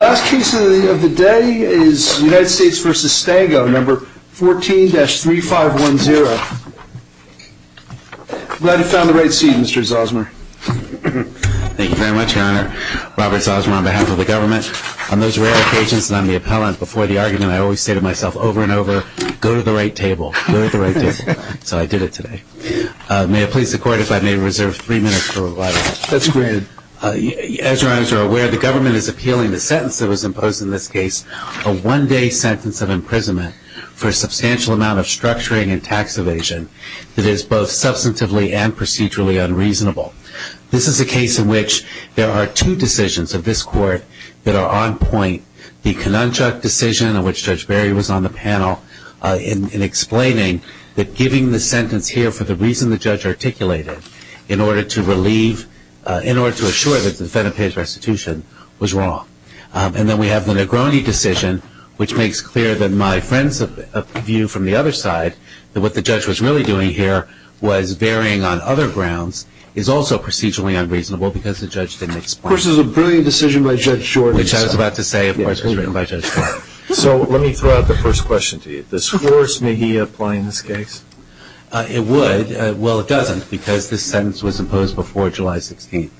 Last case of the day is United States v. Stango, No. 14-3510. I'm glad you found the right seat, Mr. Zosmer. Thank you very much, Your Honor. Robert Zosmer on behalf of the government. On those rare occasions that I'm the appellant before the argument, I always say to myself over and over, go to the right table, go to the right table. So I did it today. May it please the Court if I may reserve three minutes for rebuttal. That's granted. As Your Honors are aware, the government is appealing the sentence that was imposed in this case, a one-day sentence of imprisonment for a substantial amount of structuring and tax evasion that is both substantively and procedurally unreasonable. This is a case in which there are two decisions of this Court that are on point, the Kanunchak decision, of which Judge Barry was on the panel, in explaining that giving the sentence here for the reason the judge articulated, in order to assure that the defendant paid his restitution, was wrong. And then we have the Negroni decision, which makes clear that my friend's view from the other side, that what the judge was really doing here was varying on other grounds, is also procedurally unreasonable because the judge didn't explain it. Of course, it was a brilliant decision by Judge Jordan. Which I was about to say, of course, was written by Judge Barry. So let me throw out the first question to you. This force, may he apply in this case? It would. Well, it doesn't, because this sentence was imposed before July 16th.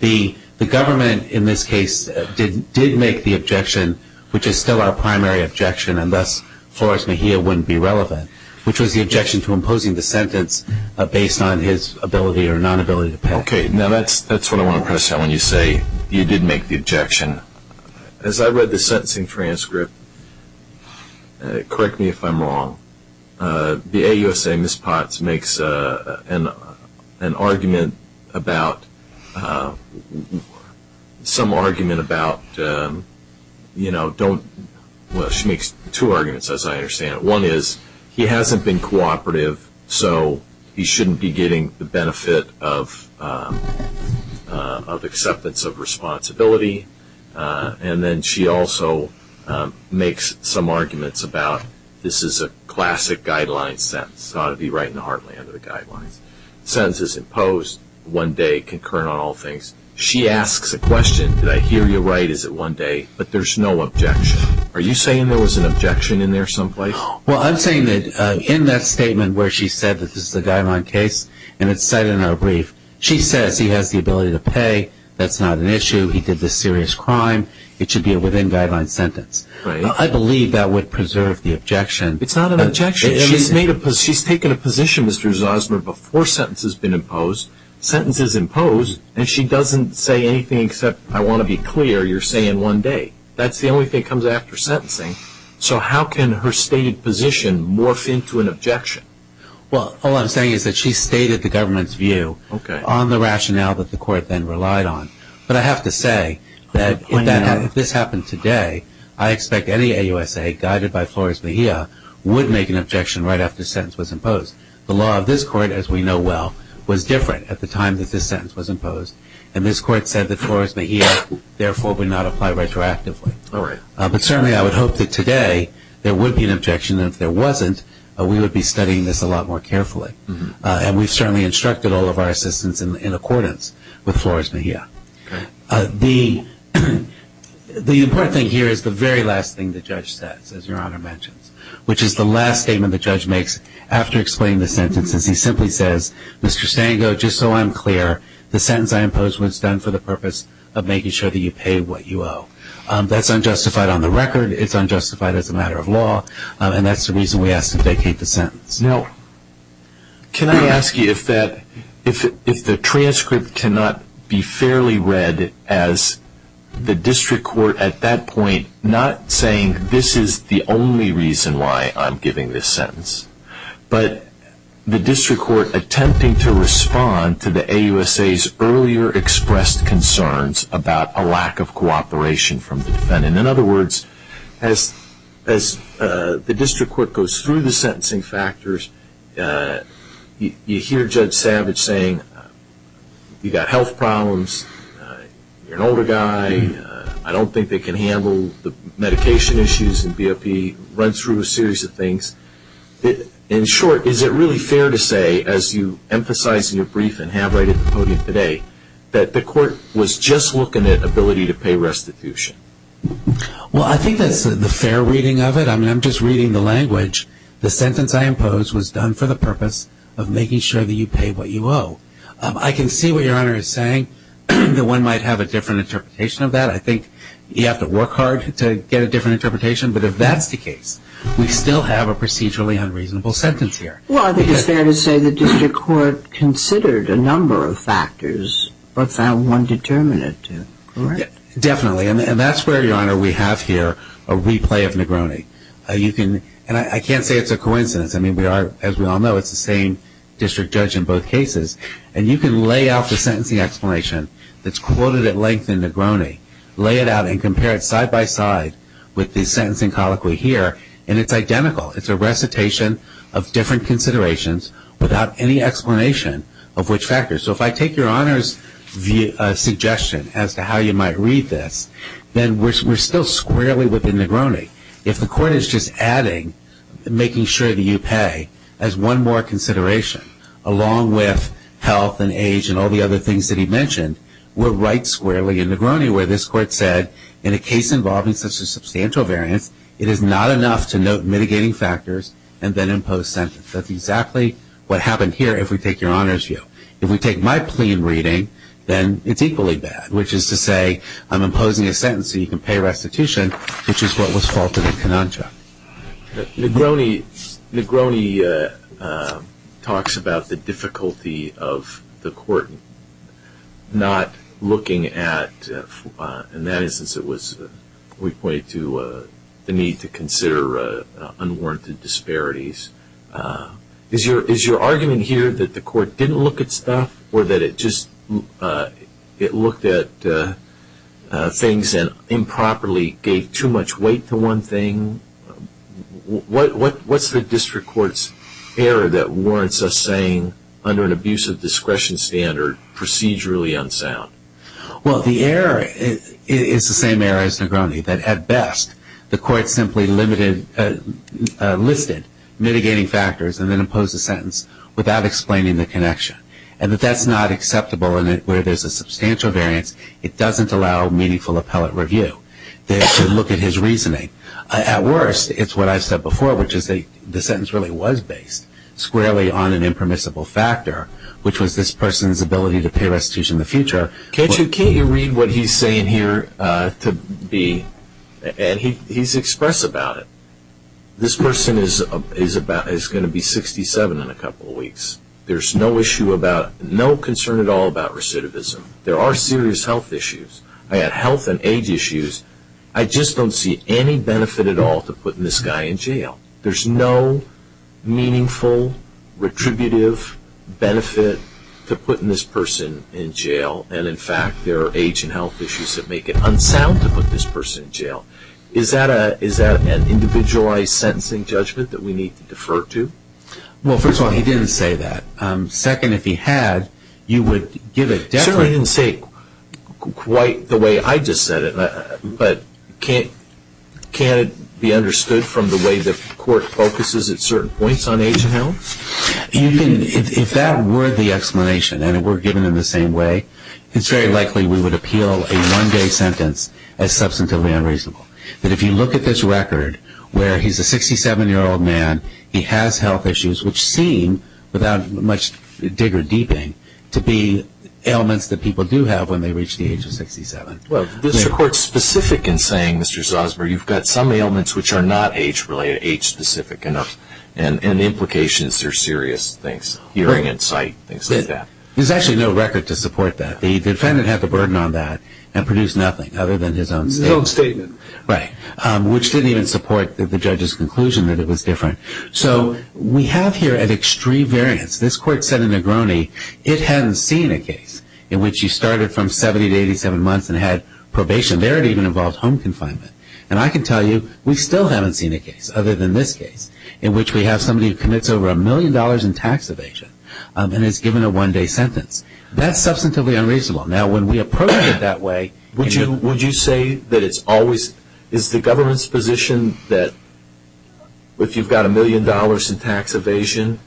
The government, in this case, did make the objection, which is still our primary objection, and thus, Flores-Mejia wouldn't be relevant, which was the objection to imposing the sentence based on his ability or nonability to pay. Okay. Now that's what I want to understand when you say you did make the objection. As I read the sentencing transcript, correct me if I'm wrong, the AUSA, Ms. Potts, makes an argument about, some argument about, you know, don't, well, she makes two arguments, as I understand it. One is he hasn't been cooperative, so he shouldn't be getting the benefit of acceptance of responsibility. And then she also makes some arguments about this is a classic guideline sentence. It's got to be right in the heartland of the guidelines. The sentence is imposed, one day, concurrent on all things. She asks a question, did I hear you right, is it one day? But there's no objection. Are you saying there was an objection in there someplace? Well, I'm saying that in that statement where she said that this is a guideline case, and it's cited in our brief, she says he has the ability to pay. That's not an issue. He did this serious crime. It should be a within-guideline sentence. Right. I believe that would preserve the objection. It's not an objection. She's taken a position, Mr. Zosmer, before sentence has been imposed. Sentence is imposed, and she doesn't say anything except, I want to be clear, you're saying one day. That's the only thing that comes after sentencing. So how can her stated position morph into an objection? Well, all I'm saying is that she stated the government's view on the rationale that the court then relied on. But I have to say that if this happened today, I expect any AUSA guided by Flores Mejia would make an objection right after sentence was imposed. The law of this court, as we know well, was different at the time that this sentence was imposed, and this court said that Flores Mejia therefore would not apply retroactively. All right. But certainly I would hope that today there would be an objection, and if there wasn't, we would be studying this a lot more carefully. And we've certainly instructed all of our assistants in accordance with Flores Mejia. The important thing here is the very last thing the judge says, as Your Honor mentions, which is the last statement the judge makes after explaining the sentence, is he simply says, Mr. Stango, just so I'm clear, the sentence I imposed was done for the purpose of making sure that you pay what you owe. That's unjustified on the record. It's unjustified as a matter of law, and that's the reason we ask to vacate the sentence. Now, can I ask you if the transcript cannot be fairly read as the district court at that point not saying this is the only reason why I'm giving this sentence, but the district court attempting to respond to the AUSA's earlier expressed concerns about a lack of cooperation from the defendant. In other words, as the district court goes through the sentencing factors, you hear Judge Savage saying you've got health problems, you're an older guy, I don't think they can handle the medication issues in BOP, run through a series of things. In short, is it really fair to say, as you emphasize in your brief and have right at the podium today, that the court was just looking at ability to pay restitution? Well, I think that's the fair reading of it. I mean, I'm just reading the language. The sentence I imposed was done for the purpose of making sure that you pay what you owe. I can see what Your Honor is saying, that one might have a different interpretation of that. I think you have to work hard to get a different interpretation. But if that's the case, we still have a procedurally unreasonable sentence here. Well, I think it's fair to say the district court considered a number of factors but found one determinant to correct. Definitely. And that's where, Your Honor, we have here a replay of Negroni. And I can't say it's a coincidence. I mean, as we all know, it's the same district judge in both cases. And you can lay out the sentencing explanation that's quoted at length in Negroni, lay it out and compare it side by side with the sentencing colloquy here, and it's identical. It's a recitation of different considerations without any explanation of which factors. So if I take Your Honor's suggestion as to how you might read this, then we're still squarely within Negroni. If the court is just adding making sure that you pay as one more consideration, along with health and age and all the other things that he mentioned, we're right squarely in Negroni where this court said, in a case involving such a substantial variance, it is not enough to note mitigating factors and then impose sentence. That's exactly what happened here if we take Your Honor's view. If we take my plea in reading, then it's equally bad, which is to say I'm imposing a sentence so you can pay restitution, which is what was faulted in Cononcha. Negroni talks about the difficulty of the court not looking at, in that instance we point to the need to consider unwarranted disparities. Is your argument here that the court didn't look at stuff or that it just looked at things and improperly gave too much weight to one thing? What's the district court's error that warrants us saying, under an abusive discretion standard, procedurally unsound? Well, the error is the same error as Negroni, that at best the court simply listed mitigating factors and then imposed a sentence without explaining the connection. And if that's not acceptable and where there's a substantial variance, it doesn't allow meaningful appellate review. They should look at his reasoning. At worst, it's what I said before, which is the sentence really was based squarely on an impermissible factor, which was this person's ability to pay restitution in the future. Can't you read what he's saying here to me? And he's express about it. This person is going to be 67 in a couple of weeks. There's no concern at all about recidivism. There are serious health issues. I had health and age issues. I just don't see any benefit at all to putting this guy in jail. There's no meaningful, retributive benefit to putting this person in jail, and in fact there are age and health issues that make it unsound to put this person in jail. Is that an individualized sentencing judgment that we need to defer to? Well, first of all, he didn't say that. Second, if he had, you would give a definite- Sure, he didn't say it quite the way I just said it, but can't it be understood from the way the court focuses at certain points on age and health? If that were the explanation and it were given in the same way, it's very likely we would appeal a one-day sentence as substantively unreasonable, that if you look at this record where he's a 67-year-old man, he has health issues, which seem, without much digger-deeping, to be ailments that people do have when they reach the age of 67. Well, is the court specific in saying, Mr. Zosmer, you've got some ailments which are not age-specific enough, and the implications are serious things, hearing and sight, things like that? There's actually no record to support that. The defendant had the burden on that and produced nothing other than his own statement. His own statement. Right, which didn't even support the judge's conclusion that it was different. So we have here an extreme variance. This court said in Negroni it hadn't seen a case in which you started from 70 to 87 months and had probation. There it even involved home confinement. And I can tell you we still haven't seen a case, other than this case, in which we have somebody who commits over a million dollars in tax evasion and is given a one-day sentence. That's substantively unreasonable. Now, when we approach it that way, would you say that it's always, is the government's position that if you've got a million dollars in tax evasion,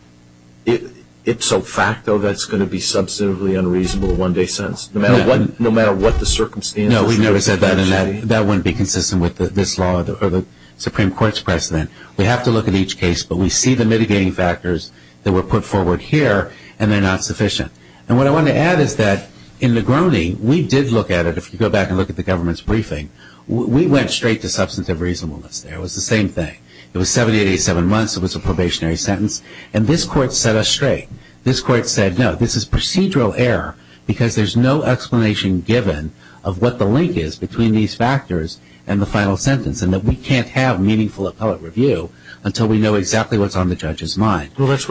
it's so facto that it's going to be a substantively unreasonable one-day sentence, no matter what the circumstances? No, we've never said that, and that wouldn't be consistent with this law or the Supreme Court's precedent. We have to look at each case, but we see the mitigating factors that were put forward here, and they're not sufficient. And what I want to add is that in Negroni, we did look at it. If you go back and look at the government's briefing, we went straight to substantive reasonableness there. It was the same thing. It was 70 to 87 months. It was a probationary sentence. And this court set us straight. This court said, no, this is procedural error because there's no explanation given of what the link is between these factors and the final sentence, and that we can't have meaningful appellate review until we know exactly what's on the judge's mind. Well, that's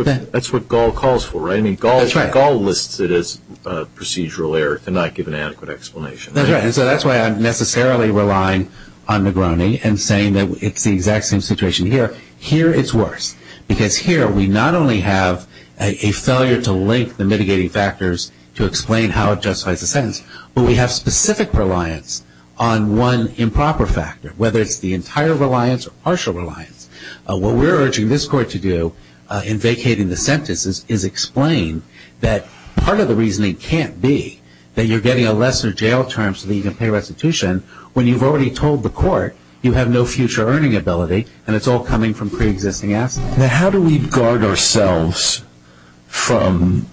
what Gall calls for, right? That's right. I mean, Gall lists it as procedural error to not give an adequate explanation. That's right, and so that's why I'm necessarily relying on Negroni and saying that it's the exact same situation here. Here it's worse because here we not only have a failure to link the mitigating factors to explain how it justifies the sentence, but we have specific reliance on one improper factor, whether it's the entire reliance or partial reliance. What we're urging this court to do in vacating the sentence is explain that part of the reasoning can't be that you're getting a lesser jail term so that you can pay restitution when you've already told the court you have no future earning ability and it's all coming from preexisting assets. Now, how do we guard ourselves from,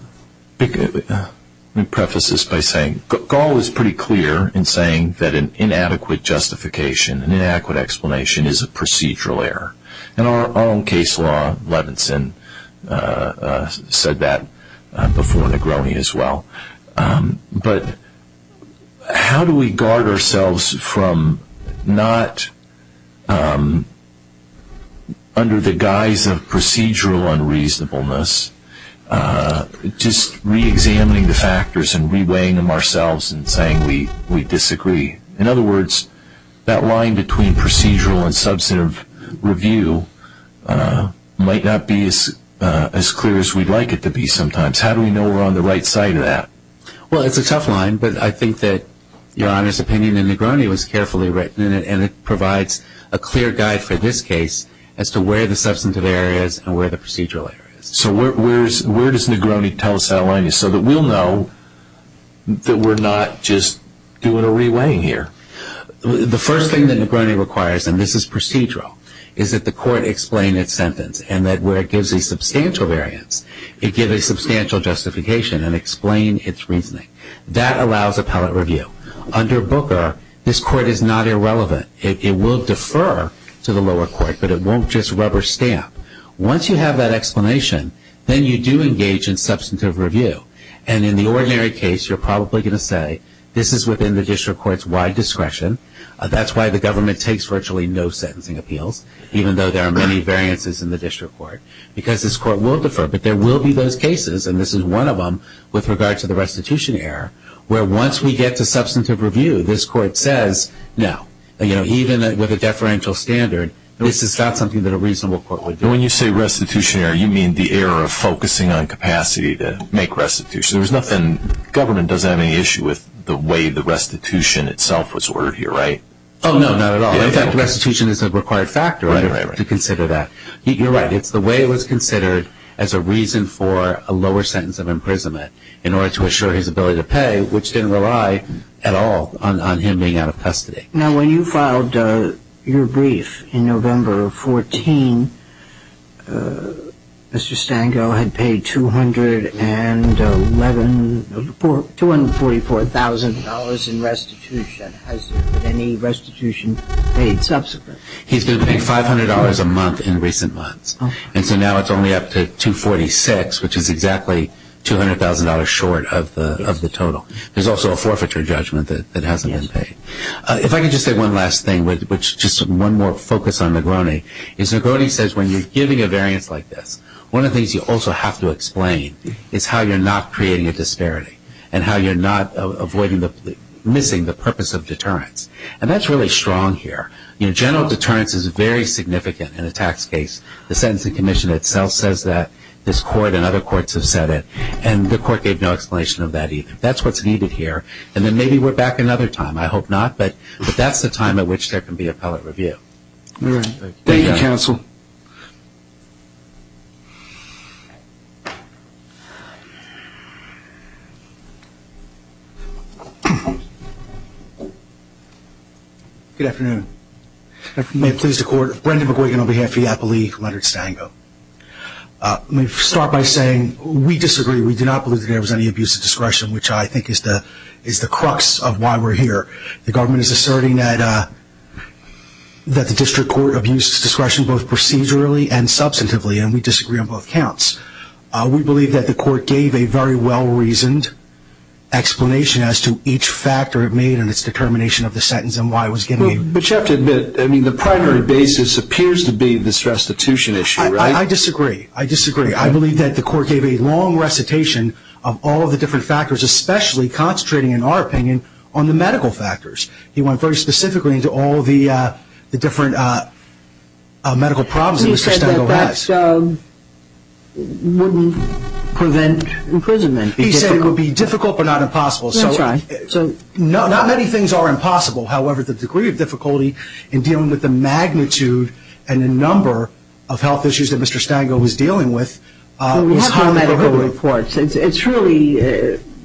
let me preface this by saying, Gall is pretty clear in saying that an inadequate justification, an inadequate explanation, is a procedural error. Our own case law, Levinson, said that before Negroni as well. But how do we guard ourselves from not, under the guise of procedural unreasonableness, just reexamining the factors and reweighing them ourselves and saying we disagree? In other words, that line between procedural and substantive review might not be as clear as we'd like it to be sometimes. How do we know we're on the right side of that? Well, it's a tough line, but I think that Your Honor's opinion in Negroni was carefully written in it and it provides a clear guide for this case as to where the substantive error is and where the procedural error is. So where does Negroni tell us that line is so that we'll know that we're not just doing a reweighing here? The first thing that Negroni requires, and this is procedural, is that the court explain its sentence and that where it gives a substantial variance, it gives a substantial justification and explain its reasoning. That allows appellate review. Under Booker, this court is not irrelevant. It will defer to the lower court, but it won't just rubber stamp. Once you have that explanation, then you do engage in substantive review. And in the ordinary case, you're probably going to say this is within the district court's wide discretion. That's why the government takes virtually no sentencing appeals, even though there are many variances in the district court, because this court will defer. But there will be those cases, and this is one of them with regard to the restitution error, where once we get to substantive review, this court says no. Even with a deferential standard, this is not something that a reasonable court would do. When you say restitution error, you mean the error of focusing on capacity to make restitution. There's nothing – government doesn't have any issue with the way the restitution itself was ordered here, right? Oh, no, not at all. In fact, restitution is a required factor to consider that. You're right. It's the way it was considered as a reason for a lower sentence of imprisonment in order to assure his ability to pay, which didn't rely at all on him being out of custody. Now, when you filed your brief in November of 2014, Mr. Stango had paid $244,000 in restitution. Has there been any restitution paid subsequent? He's been paid $500 a month in recent months. And so now it's only up to $246,000, which is exactly $200,000 short of the total. There's also a forfeiture judgment that hasn't been paid. If I could just say one last thing, which is just one more focus on Negroni, is Negroni says when you're giving a variance like this, one of the things you also have to explain is how you're not creating a disparity and how you're not missing the purpose of deterrence. And that's really strong here. General deterrence is very significant in a tax case. The sentencing commission itself says that. This court and other courts have said it. And the court gave no explanation of that either. That's what's needed here. And then maybe we're back another time. I hope not. But that's the time at which there can be appellate review. All right. Thank you, counsel. Good afternoon. If you may, please, the court. Brendan McGuigan on behalf of the appellee, Leonard Stango. Let me start by saying we disagree. We do not believe that there was any abuse of discretion, which I think is the crux of why we're here. The government is asserting that the district court abused discretion both procedurally and substantively, and we disagree on both counts. We believe that the court gave a very well-reasoned explanation as to each factor it made in its determination of the sentence and why it was given. But you have to admit, I mean, the primary basis appears to be this restitution issue, right? I disagree. I disagree. I believe that the court gave a long recitation of all of the different factors, especially concentrating, in our opinion, on the medical factors. He went very specifically into all the different medical problems that Mr. Stango has. He said that that wouldn't prevent imprisonment. He said it would be difficult but not impossible. That's right. Not many things are impossible. However, the degree of difficulty in dealing with the magnitude and the number of health issues that Mr. Stango was dealing with is highly prohibitive. We have no medical reports. It's really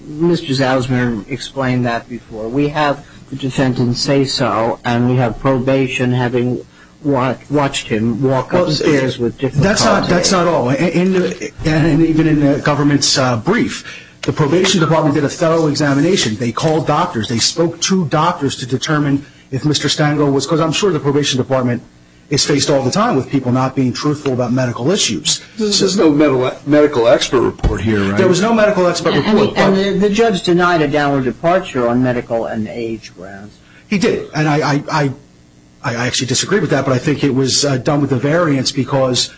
Mrs. Ellsmer explained that before. We have the defendant say so, and we have probation having watched him walk up the stairs with difficulty. That's not all. And even in the government's brief, the probation department did a thorough examination. They called doctors. They spoke to doctors to determine if Mr. Stango was because I'm sure the probation department is faced all the time with people not being truthful about medical issues. There's no medical expert report here, right? There was no medical expert report. And the judge denied a downward departure on medical and age grounds. He did, and I actually disagree with that, but I think it was done with a variance because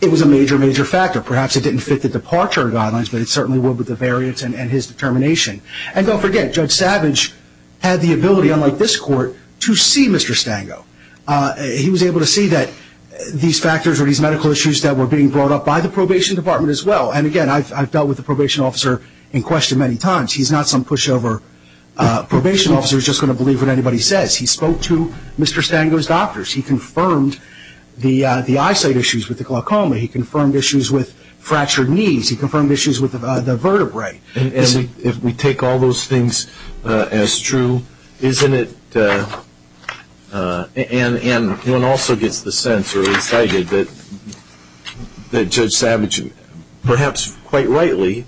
it was a major, major factor. Perhaps it didn't fit the departure guidelines, but it certainly would with the variance and his determination. And don't forget, Judge Savage had the ability, unlike this court, to see Mr. Stango. He was able to see that these factors or these medical issues that were being brought up by the probation department as well. And, again, I've dealt with the probation officer in question many times. He's not some pushover probation officer who's just going to believe what anybody says. He spoke to Mr. Stango's doctors. He confirmed the eyesight issues with the glaucoma. He confirmed issues with fractured knees. He confirmed issues with the vertebrae. And if we take all those things as true, isn't it? And one also gets the sense or is cited that Judge Savage perhaps quite rightly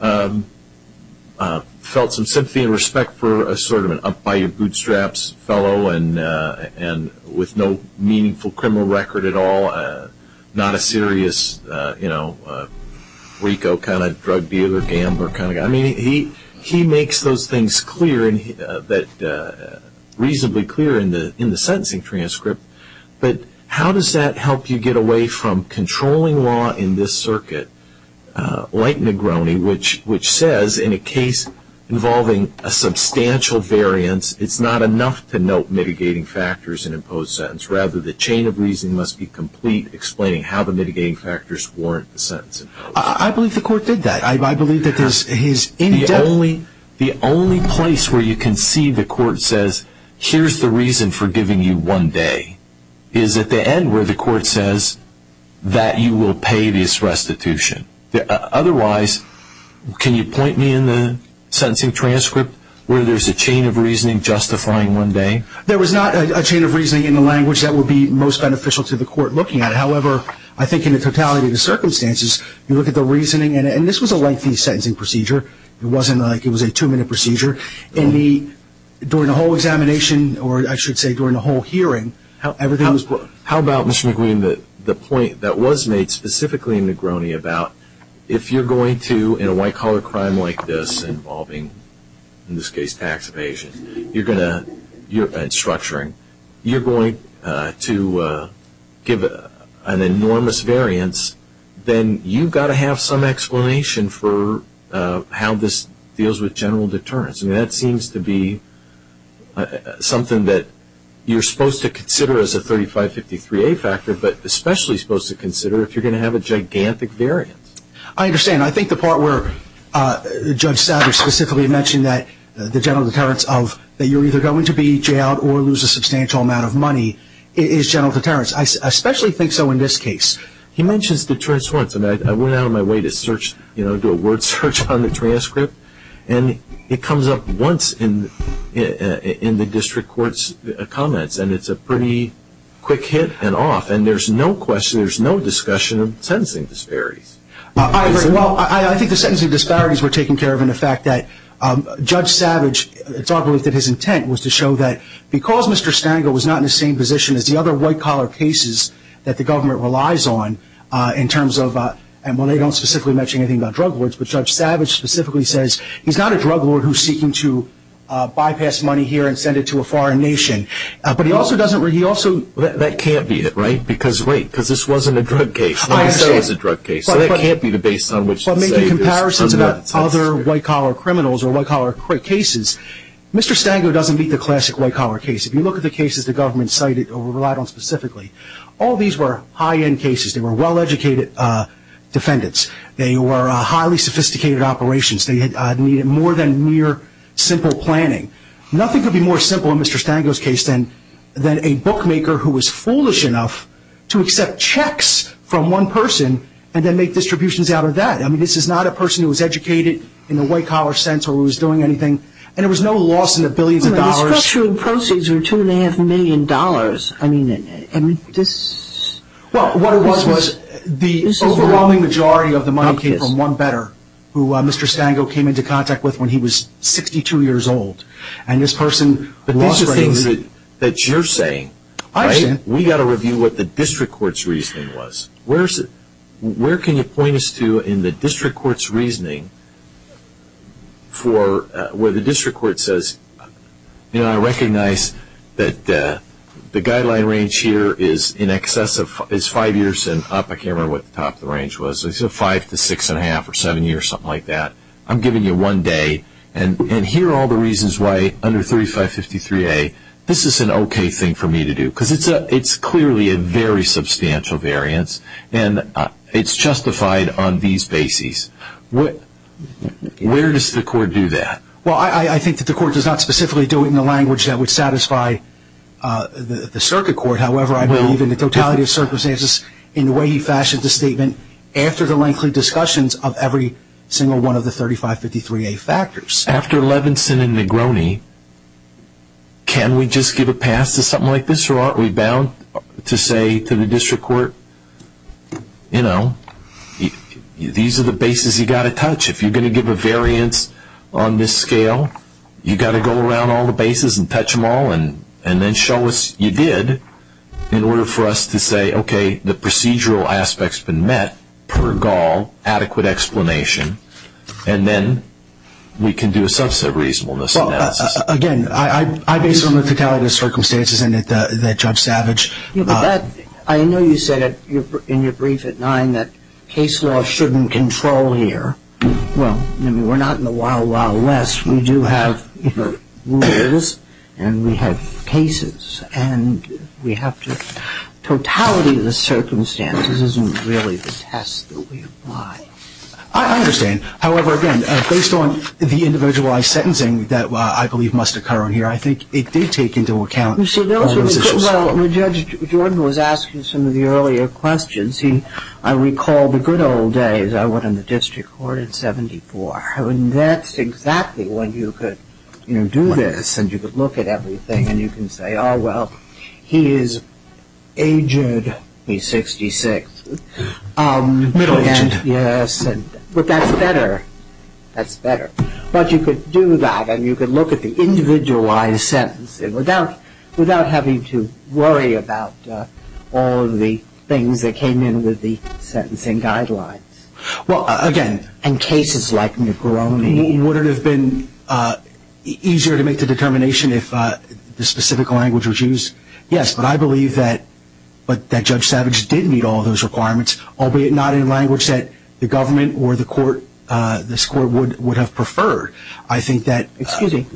felt some sympathy and respect for a sort of an up-by-your-bootstraps fellow and with no meaningful criminal record at all, not a serious, you know, RICO kind of drug dealer, gambler kind of guy. I mean, he makes those things clear, reasonably clear in the sentencing transcript. But how does that help you get away from controlling law in this circuit like Negroni, which says in a case involving a substantial variance, it's not enough to note mitigating factors in imposed sentence. Rather, the chain of reasoning must be complete, explaining how the mitigating factors warrant the sentence. I believe the court did that. I believe that his in-depth… The only place where you can see the court says, here's the reason for giving you one day, is at the end where the court says that you will pay this restitution. Otherwise, can you point me in the sentencing transcript where there's a chain of reasoning justifying one day? There was not a chain of reasoning in the language that would be most beneficial to the court looking at it. However, I think in the totality of the circumstances, you look at the reasoning, and this was a lengthy sentencing procedure. It wasn't like it was a two-minute procedure. During the whole examination, or I should say during the whole hearing, everything was put… How about, Mr. McQueen, the point that was made specifically in Negroni about if you're going to, in a white-collar crime like this involving, in this case, tax evasion, you're going to… You're going to give an enormous variance, then you've got to have some explanation for how this deals with general deterrence. That seems to be something that you're supposed to consider as a 3553A factor, but especially supposed to consider if you're going to have a gigantic variance. I understand. I think the part where Judge Savage specifically mentioned that the general deterrence of that you're either going to be jailed or lose a substantial amount of money is general deterrence. I especially think so in this case. He mentions deterrence once, and I went out of my way to do a word search on the transcript, and it comes up once in the district court's comments, and it's a pretty quick hit and off, and there's no discussion of sentencing disparities. Well, I think the sentencing disparities were taken care of in the fact that Judge Savage, it's our belief that his intent was to show that because Mr. Stangl was not in the same position as the other white-collar cases that the government relies on in terms of… Well, they don't specifically mention anything about drug lords, but Judge Savage specifically says he's not a drug lord who's seeking to bypass money here and send it to a foreign nation. That can't be it, right? Because wait, this wasn't a drug case. Let me say it was a drug case, so that can't be the basis on which to say this. But making comparisons about other white-collar criminals or white-collar cases, Mr. Stangl doesn't meet the classic white-collar case. If you look at the cases the government cited or relied on specifically, all these were high-end cases. They were well-educated defendants. They were highly sophisticated operations. They needed more than mere simple planning. Nothing could be more simple in Mr. Stangl's case than a bookmaker who was foolish enough to accept checks from one person and then make distributions out of that. I mean, this is not a person who was educated in the white-collar sense or who was doing anything. And there was no loss in the billions of dollars. The structural proceeds were $2.5 million. I mean, this… Well, what it was was the overwhelming majority of the money came from one better, who Mr. Stangl came into contact with when he was 62 years old. And this person lost… But these are things that you're saying, right? I've said… We've got to review what the district court's reasoning was. Where can you point us to in the district court's reasoning for where the district court says, you know, I recognize that the guideline range here is in excess of five years and up. I don't care what the top of the range was. Let's say five to six and a half or seven years, something like that. I'm giving you one day. And here are all the reasons why, under 3553A, this is an okay thing for me to do. Because it's clearly a very substantial variance. And it's justified on these bases. Where does the court do that? Well, I think that the court does not specifically do it in a language that would satisfy the circuit court. However, I believe in the totality of circumstances in the way he fashioned the statement after the lengthy discussions of every single one of the 3553A factors. After Levinson and Negroni, can we just give a pass to something like this? Or aren't we bound to say to the district court, you know, these are the bases you've got to touch. If you're going to give a variance on this scale, you've got to go around all the bases and touch them all and then show us you did in order for us to say, okay, the procedural aspect's been met per gaul, adequate explanation. And then we can do a subset reasonableness analysis. Again, I base it on the totality of circumstances and that Judge Savage. I know you said in your brief at 9 that case law shouldn't control here. Well, we're not in the wild, wild west. We do have rules and we have cases. And we have to totality the circumstances isn't really the test that we apply. I understand. However, again, based on the individualized sentencing that I believe must occur on here, I think it did take into account those issues. Well, Judge Jordan was asking some of the earlier questions. He, I recall the good old days. I went in the district court in 74. I mean, that's exactly when you could, you know, do this and you could look at everything and you can say, oh, well, he is aged. He's 66. Middle aged. Yes. But that's better. That's better. But you could do that and you could look at the individualized sentencing without having to worry about all of the things that came in with the sentencing guidelines. Well, again. And cases like Negroni. Would it have been easier to make the determination if the specific language was used? Yes, but I believe that Judge Savage did meet all of those requirements, albeit not in language that the government or the court, this court would have preferred. I think that. Excuse me.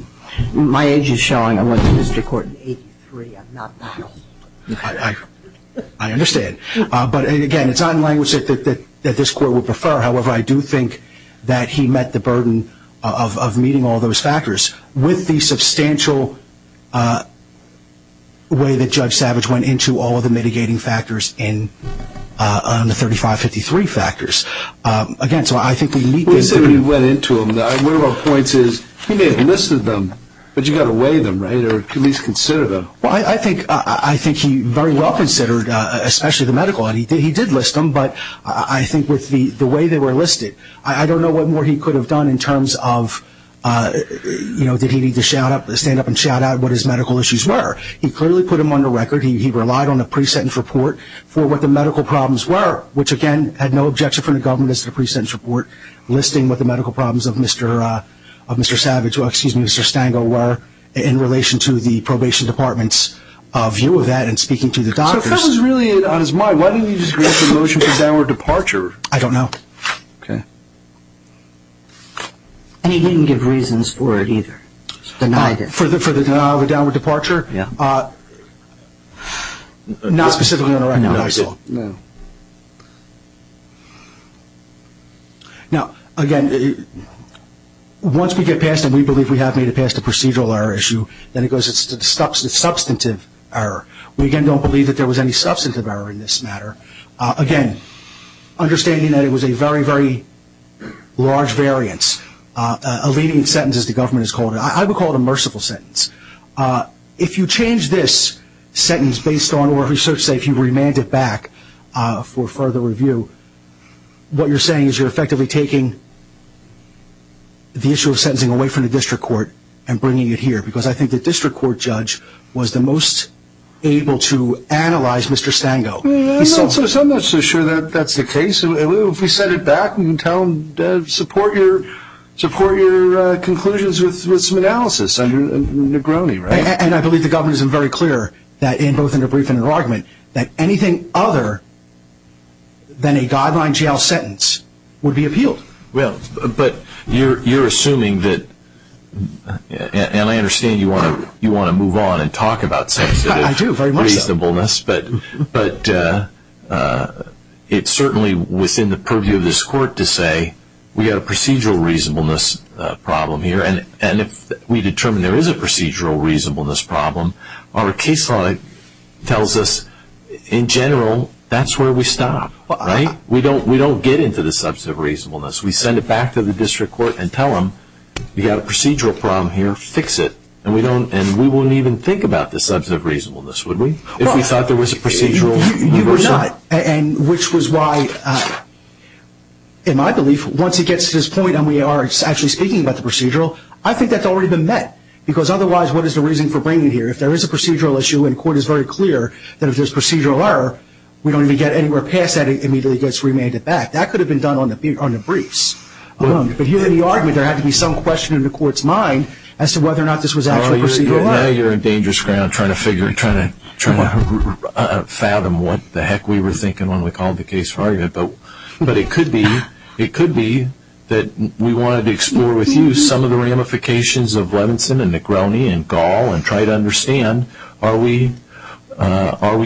My age is showing. I went to district court in 83. I'm not that old. I understand. But, again, it's not in language that this court would prefer. However, I do think that he met the burden of meeting all those factors with the substantial way that Judge Savage went into all of the mitigating factors in the 3553 factors. Again, so I think we need to. He went into them. One of our points is he may have listed them, but you've got to weigh them, right, or at least consider them. Well, I think he very well considered, especially the medical. He did list them, but I think with the way they were listed, I don't know what more he could have done in terms of, you know, did he need to stand up and shout out what his medical issues were. He clearly put them on the record. He relied on a pre-sentence report for what the medical problems were, which, again, had no objection from the government as to the pre-sentence report listing what the medical problems of Mr. Savage, excuse me, Mr. Stangel were in relation to the probation department's view of that and speaking to the doctors. So if that was really on his mind, why didn't he just grant the motion for downward departure? I don't know. Okay. And he didn't give reasons for it either, denied it. For the denial of a downward departure? Not specifically on the record, I saw. No, he didn't. No. Okay. Now, again, once we get past it, we believe we have made it past the procedural error issue, then it goes to the substantive error. We, again, don't believe that there was any substantive error in this matter. Again, understanding that it was a very, very large variance, a leading sentence, as the government has called it. I would call it a merciful sentence. If you change this sentence based on what research said, if you remand it back for further review, what you're saying is you're effectively taking the issue of sentencing away from the district court and bringing it here because I think the district court judge was the most able to analyze Mr. Stangel. I'm not so sure that that's the case. If we set it back and tell them, support your conclusions with some analysis, Negroni, right? And I believe the government is very clear, both in their brief and in their argument, that anything other than a guideline jail sentence would be appealed. Well, but you're assuming that, and I understand you want to move on and talk about sentences. I do, very much so. But it's certainly within the purview of this court to say we have a procedural reasonableness problem here, and if we determine there is a procedural reasonableness problem, our case law tells us, in general, that's where we stop, right? We don't get into the substantive reasonableness. We send it back to the district court and tell them we have a procedural problem here, fix it, and we won't even think about the substantive reasonableness, would we? If we thought there was a procedural reasonableness problem. You were not, which was why, in my belief, once it gets to this point and we are actually speaking about the procedural, I think that's already been met, because otherwise what is the reason for bringing it here? If there is a procedural issue, and the court is very clear that if there's procedural error, we don't even get anywhere past that, it immediately gets remanded back. That could have been done on the briefs alone, but here in the argument, there had to be some question in the court's mind as to whether or not this was actually procedural. Now you're in dangerous ground trying to fathom what the heck we were thinking when we called the case for argument, but it could be that we wanted to explore with you some of the ramifications of Levinson and McGrowney and Gall and try to understand are we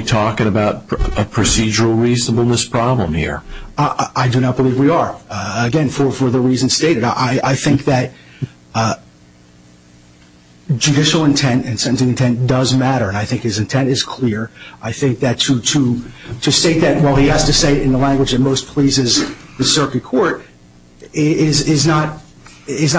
talking about a procedural reasonableness problem here? I do not believe we are. Again, for the reasons stated, I think that judicial intent and sentencing intent does matter, and I think his intent is clear. I think that to state that while he has to say it in the language that most pleases the circuit court is not valid.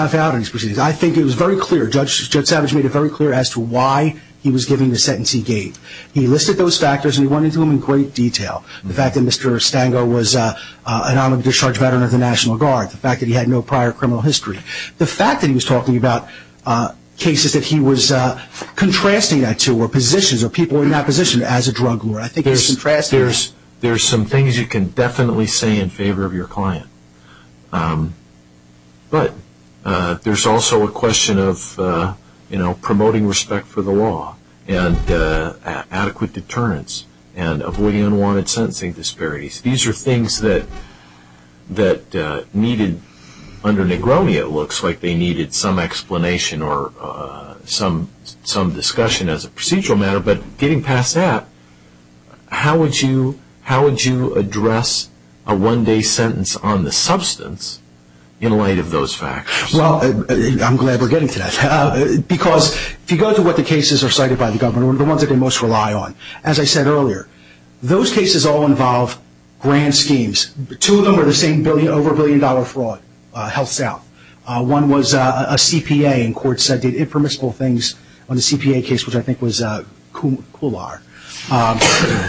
I think it was very clear, Judge Savage made it very clear as to why he was giving the sentence he gave. He listed those factors, and he went into them in great detail. The fact that Mr. Stango was a non-discharge veteran of the National Guard. The fact that he had no prior criminal history. The fact that he was talking about cases that he was contrasting that to, or people in that position as a drug lord. There's some things you can definitely say in favor of your client, but there's also a question of promoting respect for the law and adequate deterrence and avoiding unwanted sentencing disparities. These are things that needed, under Negroni it looks like they needed some explanation or some discussion as a procedural matter, but getting past that, how would you address a one-day sentence on the substance in light of those factors? Well, I'm glad we're getting to that. Because if you go to what the cases are cited by the government, the ones that they most rely on, as I said earlier, those cases all involve grand schemes. Two of them are the same over-a-billion-dollar fraud, HealthSouth. One was a CPA, and court said did impermissible things on the CPA case, which I think was Coulard,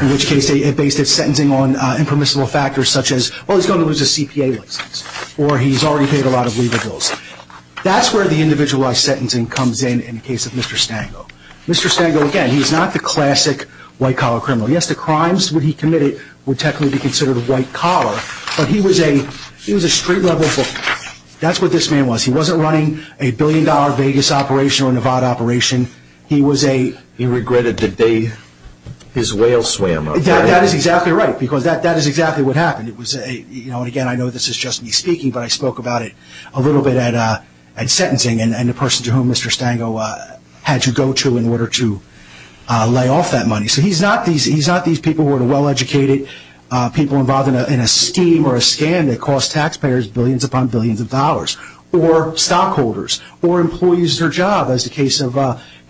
in which case it based its sentencing on impermissible factors such as, well, he's going to lose his CPA license, or he's already paid a lot of leaver bills. That's where the individualized sentencing comes in in the case of Mr. Stango. Mr. Stango, again, he's not the classic white-collar criminal. Yes, the crimes that he committed would technically be considered white-collar, but he was a street-level criminal. That's what this man was. He wasn't running a billion-dollar Vegas operation or Nevada operation. He regretted the day his whale swam. That is exactly right, because that is exactly what happened. Again, I know this is just me speaking, but I spoke about it a little bit at sentencing, and the person to whom Mr. Stango had to go to in order to lay off that money. So he's not these people who are well-educated, people involved in a scheme or a scam that costs taxpayers billions upon billions of dollars, or stockholders, or employees at their job, as the case of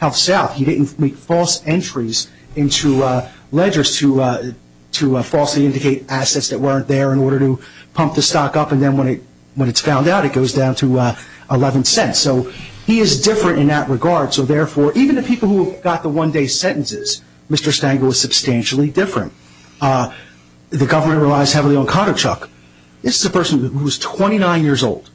HealthSouth. He didn't make false entries into ledgers to falsely indicate assets that weren't there in order to pump the stock up, and then when it's found out, it goes down to 11 cents. So he is different in that regard. So therefore, even the people who got the one-day sentences, Mr. Stango was substantially different. The government relies heavily on conduct, Chuck. This is a person who was 29 years old.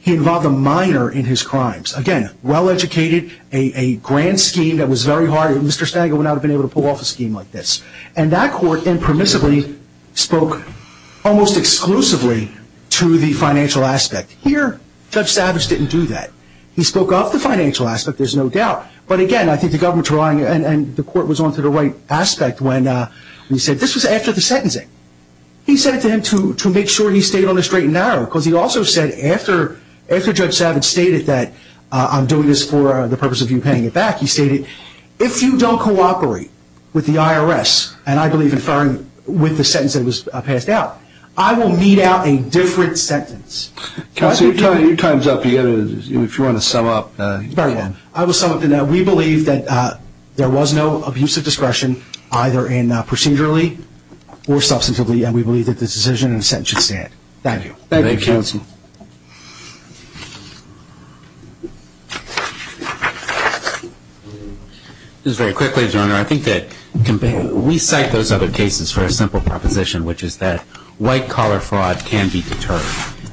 He involved a minor in his crimes. Again, well-educated, a grand scheme that was very hard. Mr. Stango would not have been able to pull off a scheme like this. And that court impermissibly spoke almost exclusively to the financial aspect. Here, Judge Savage didn't do that. He spoke of the financial aspect, there's no doubt. But again, I think the government's wrong, and the court was on to the right aspect when he said this was after the sentencing. He said it to him to make sure he stayed on the straight and narrow, because he also said after Judge Savage stated that, I'm doing this for the purpose of you paying it back, he stated, if you don't cooperate with the IRS, and I believe in firing with the sentence that was passed out, I will mete out a different sentence. Counsel, your time's up. If you want to sum up. I will sum up. We believe that there was no abuse of discretion, either procedurally or substantively, and we believe that this decision and sentence should stand. Thank you. Thank you, Counsel. Just very quickly, Your Honor, I think that we cite those other cases for a simple proposition, which is that white-collar fraud can be deterred,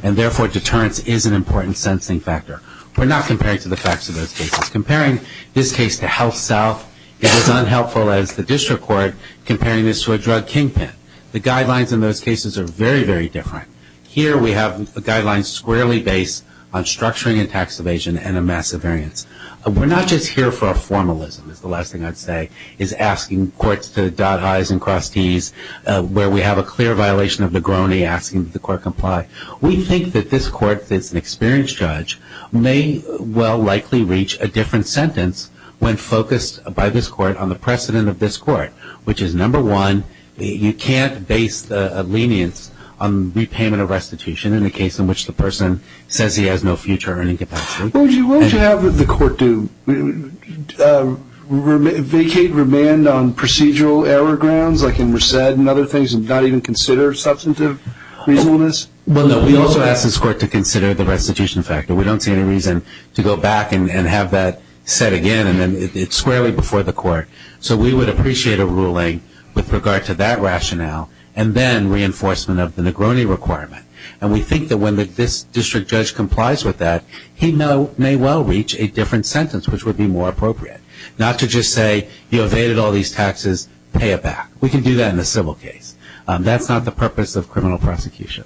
and therefore deterrence is an important sentencing factor. We're not comparing to the facts of those cases. Comparing this case to HealthSouth, it is unhelpful as the district court comparing this to a drug kingpin. The guidelines in those cases are very, very different. Here we have a guideline squarely based on structuring and tax evasion and a massive variance. We're not just here for a formalism, is the last thing I'd say, is asking courts to dot highs and cross Ts, where we have a clear violation of Negroni asking that the court comply. We think that this court, if it's an experienced judge, may well likely reach a different sentence when focused by this court on the precedent of this court, which is, number one, you can't base the lenience on repayment of restitution in the case in which the person says he has no future earning capacity. What would you have the court do? Vacate remand on procedural error grounds like in Resed and other things and not even consider substantive reasonableness? Well, no, we also ask this court to consider the restitution factor. We don't see any reason to go back and have that set again and then it's squarely before the court. So we would appreciate a ruling with regard to that rationale and then reinforcement of the Negroni requirement. And we think that when this district judge complies with that, he may well reach a different sentence, which would be more appropriate, not to just say you evaded all these taxes, pay it back. We can do that in a civil case. That's not the purpose of criminal prosecution.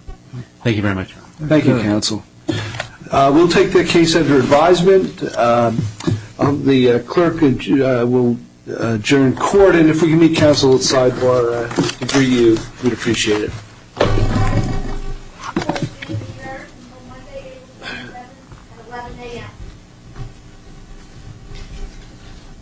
Thank you very much. Thank you, counsel. We'll take the case under advisement. The clerk will adjourn court, and if we can meet counsel outside for a review, we'd appreciate it. Court is adjourned until Monday, April 27th at 11 a.m.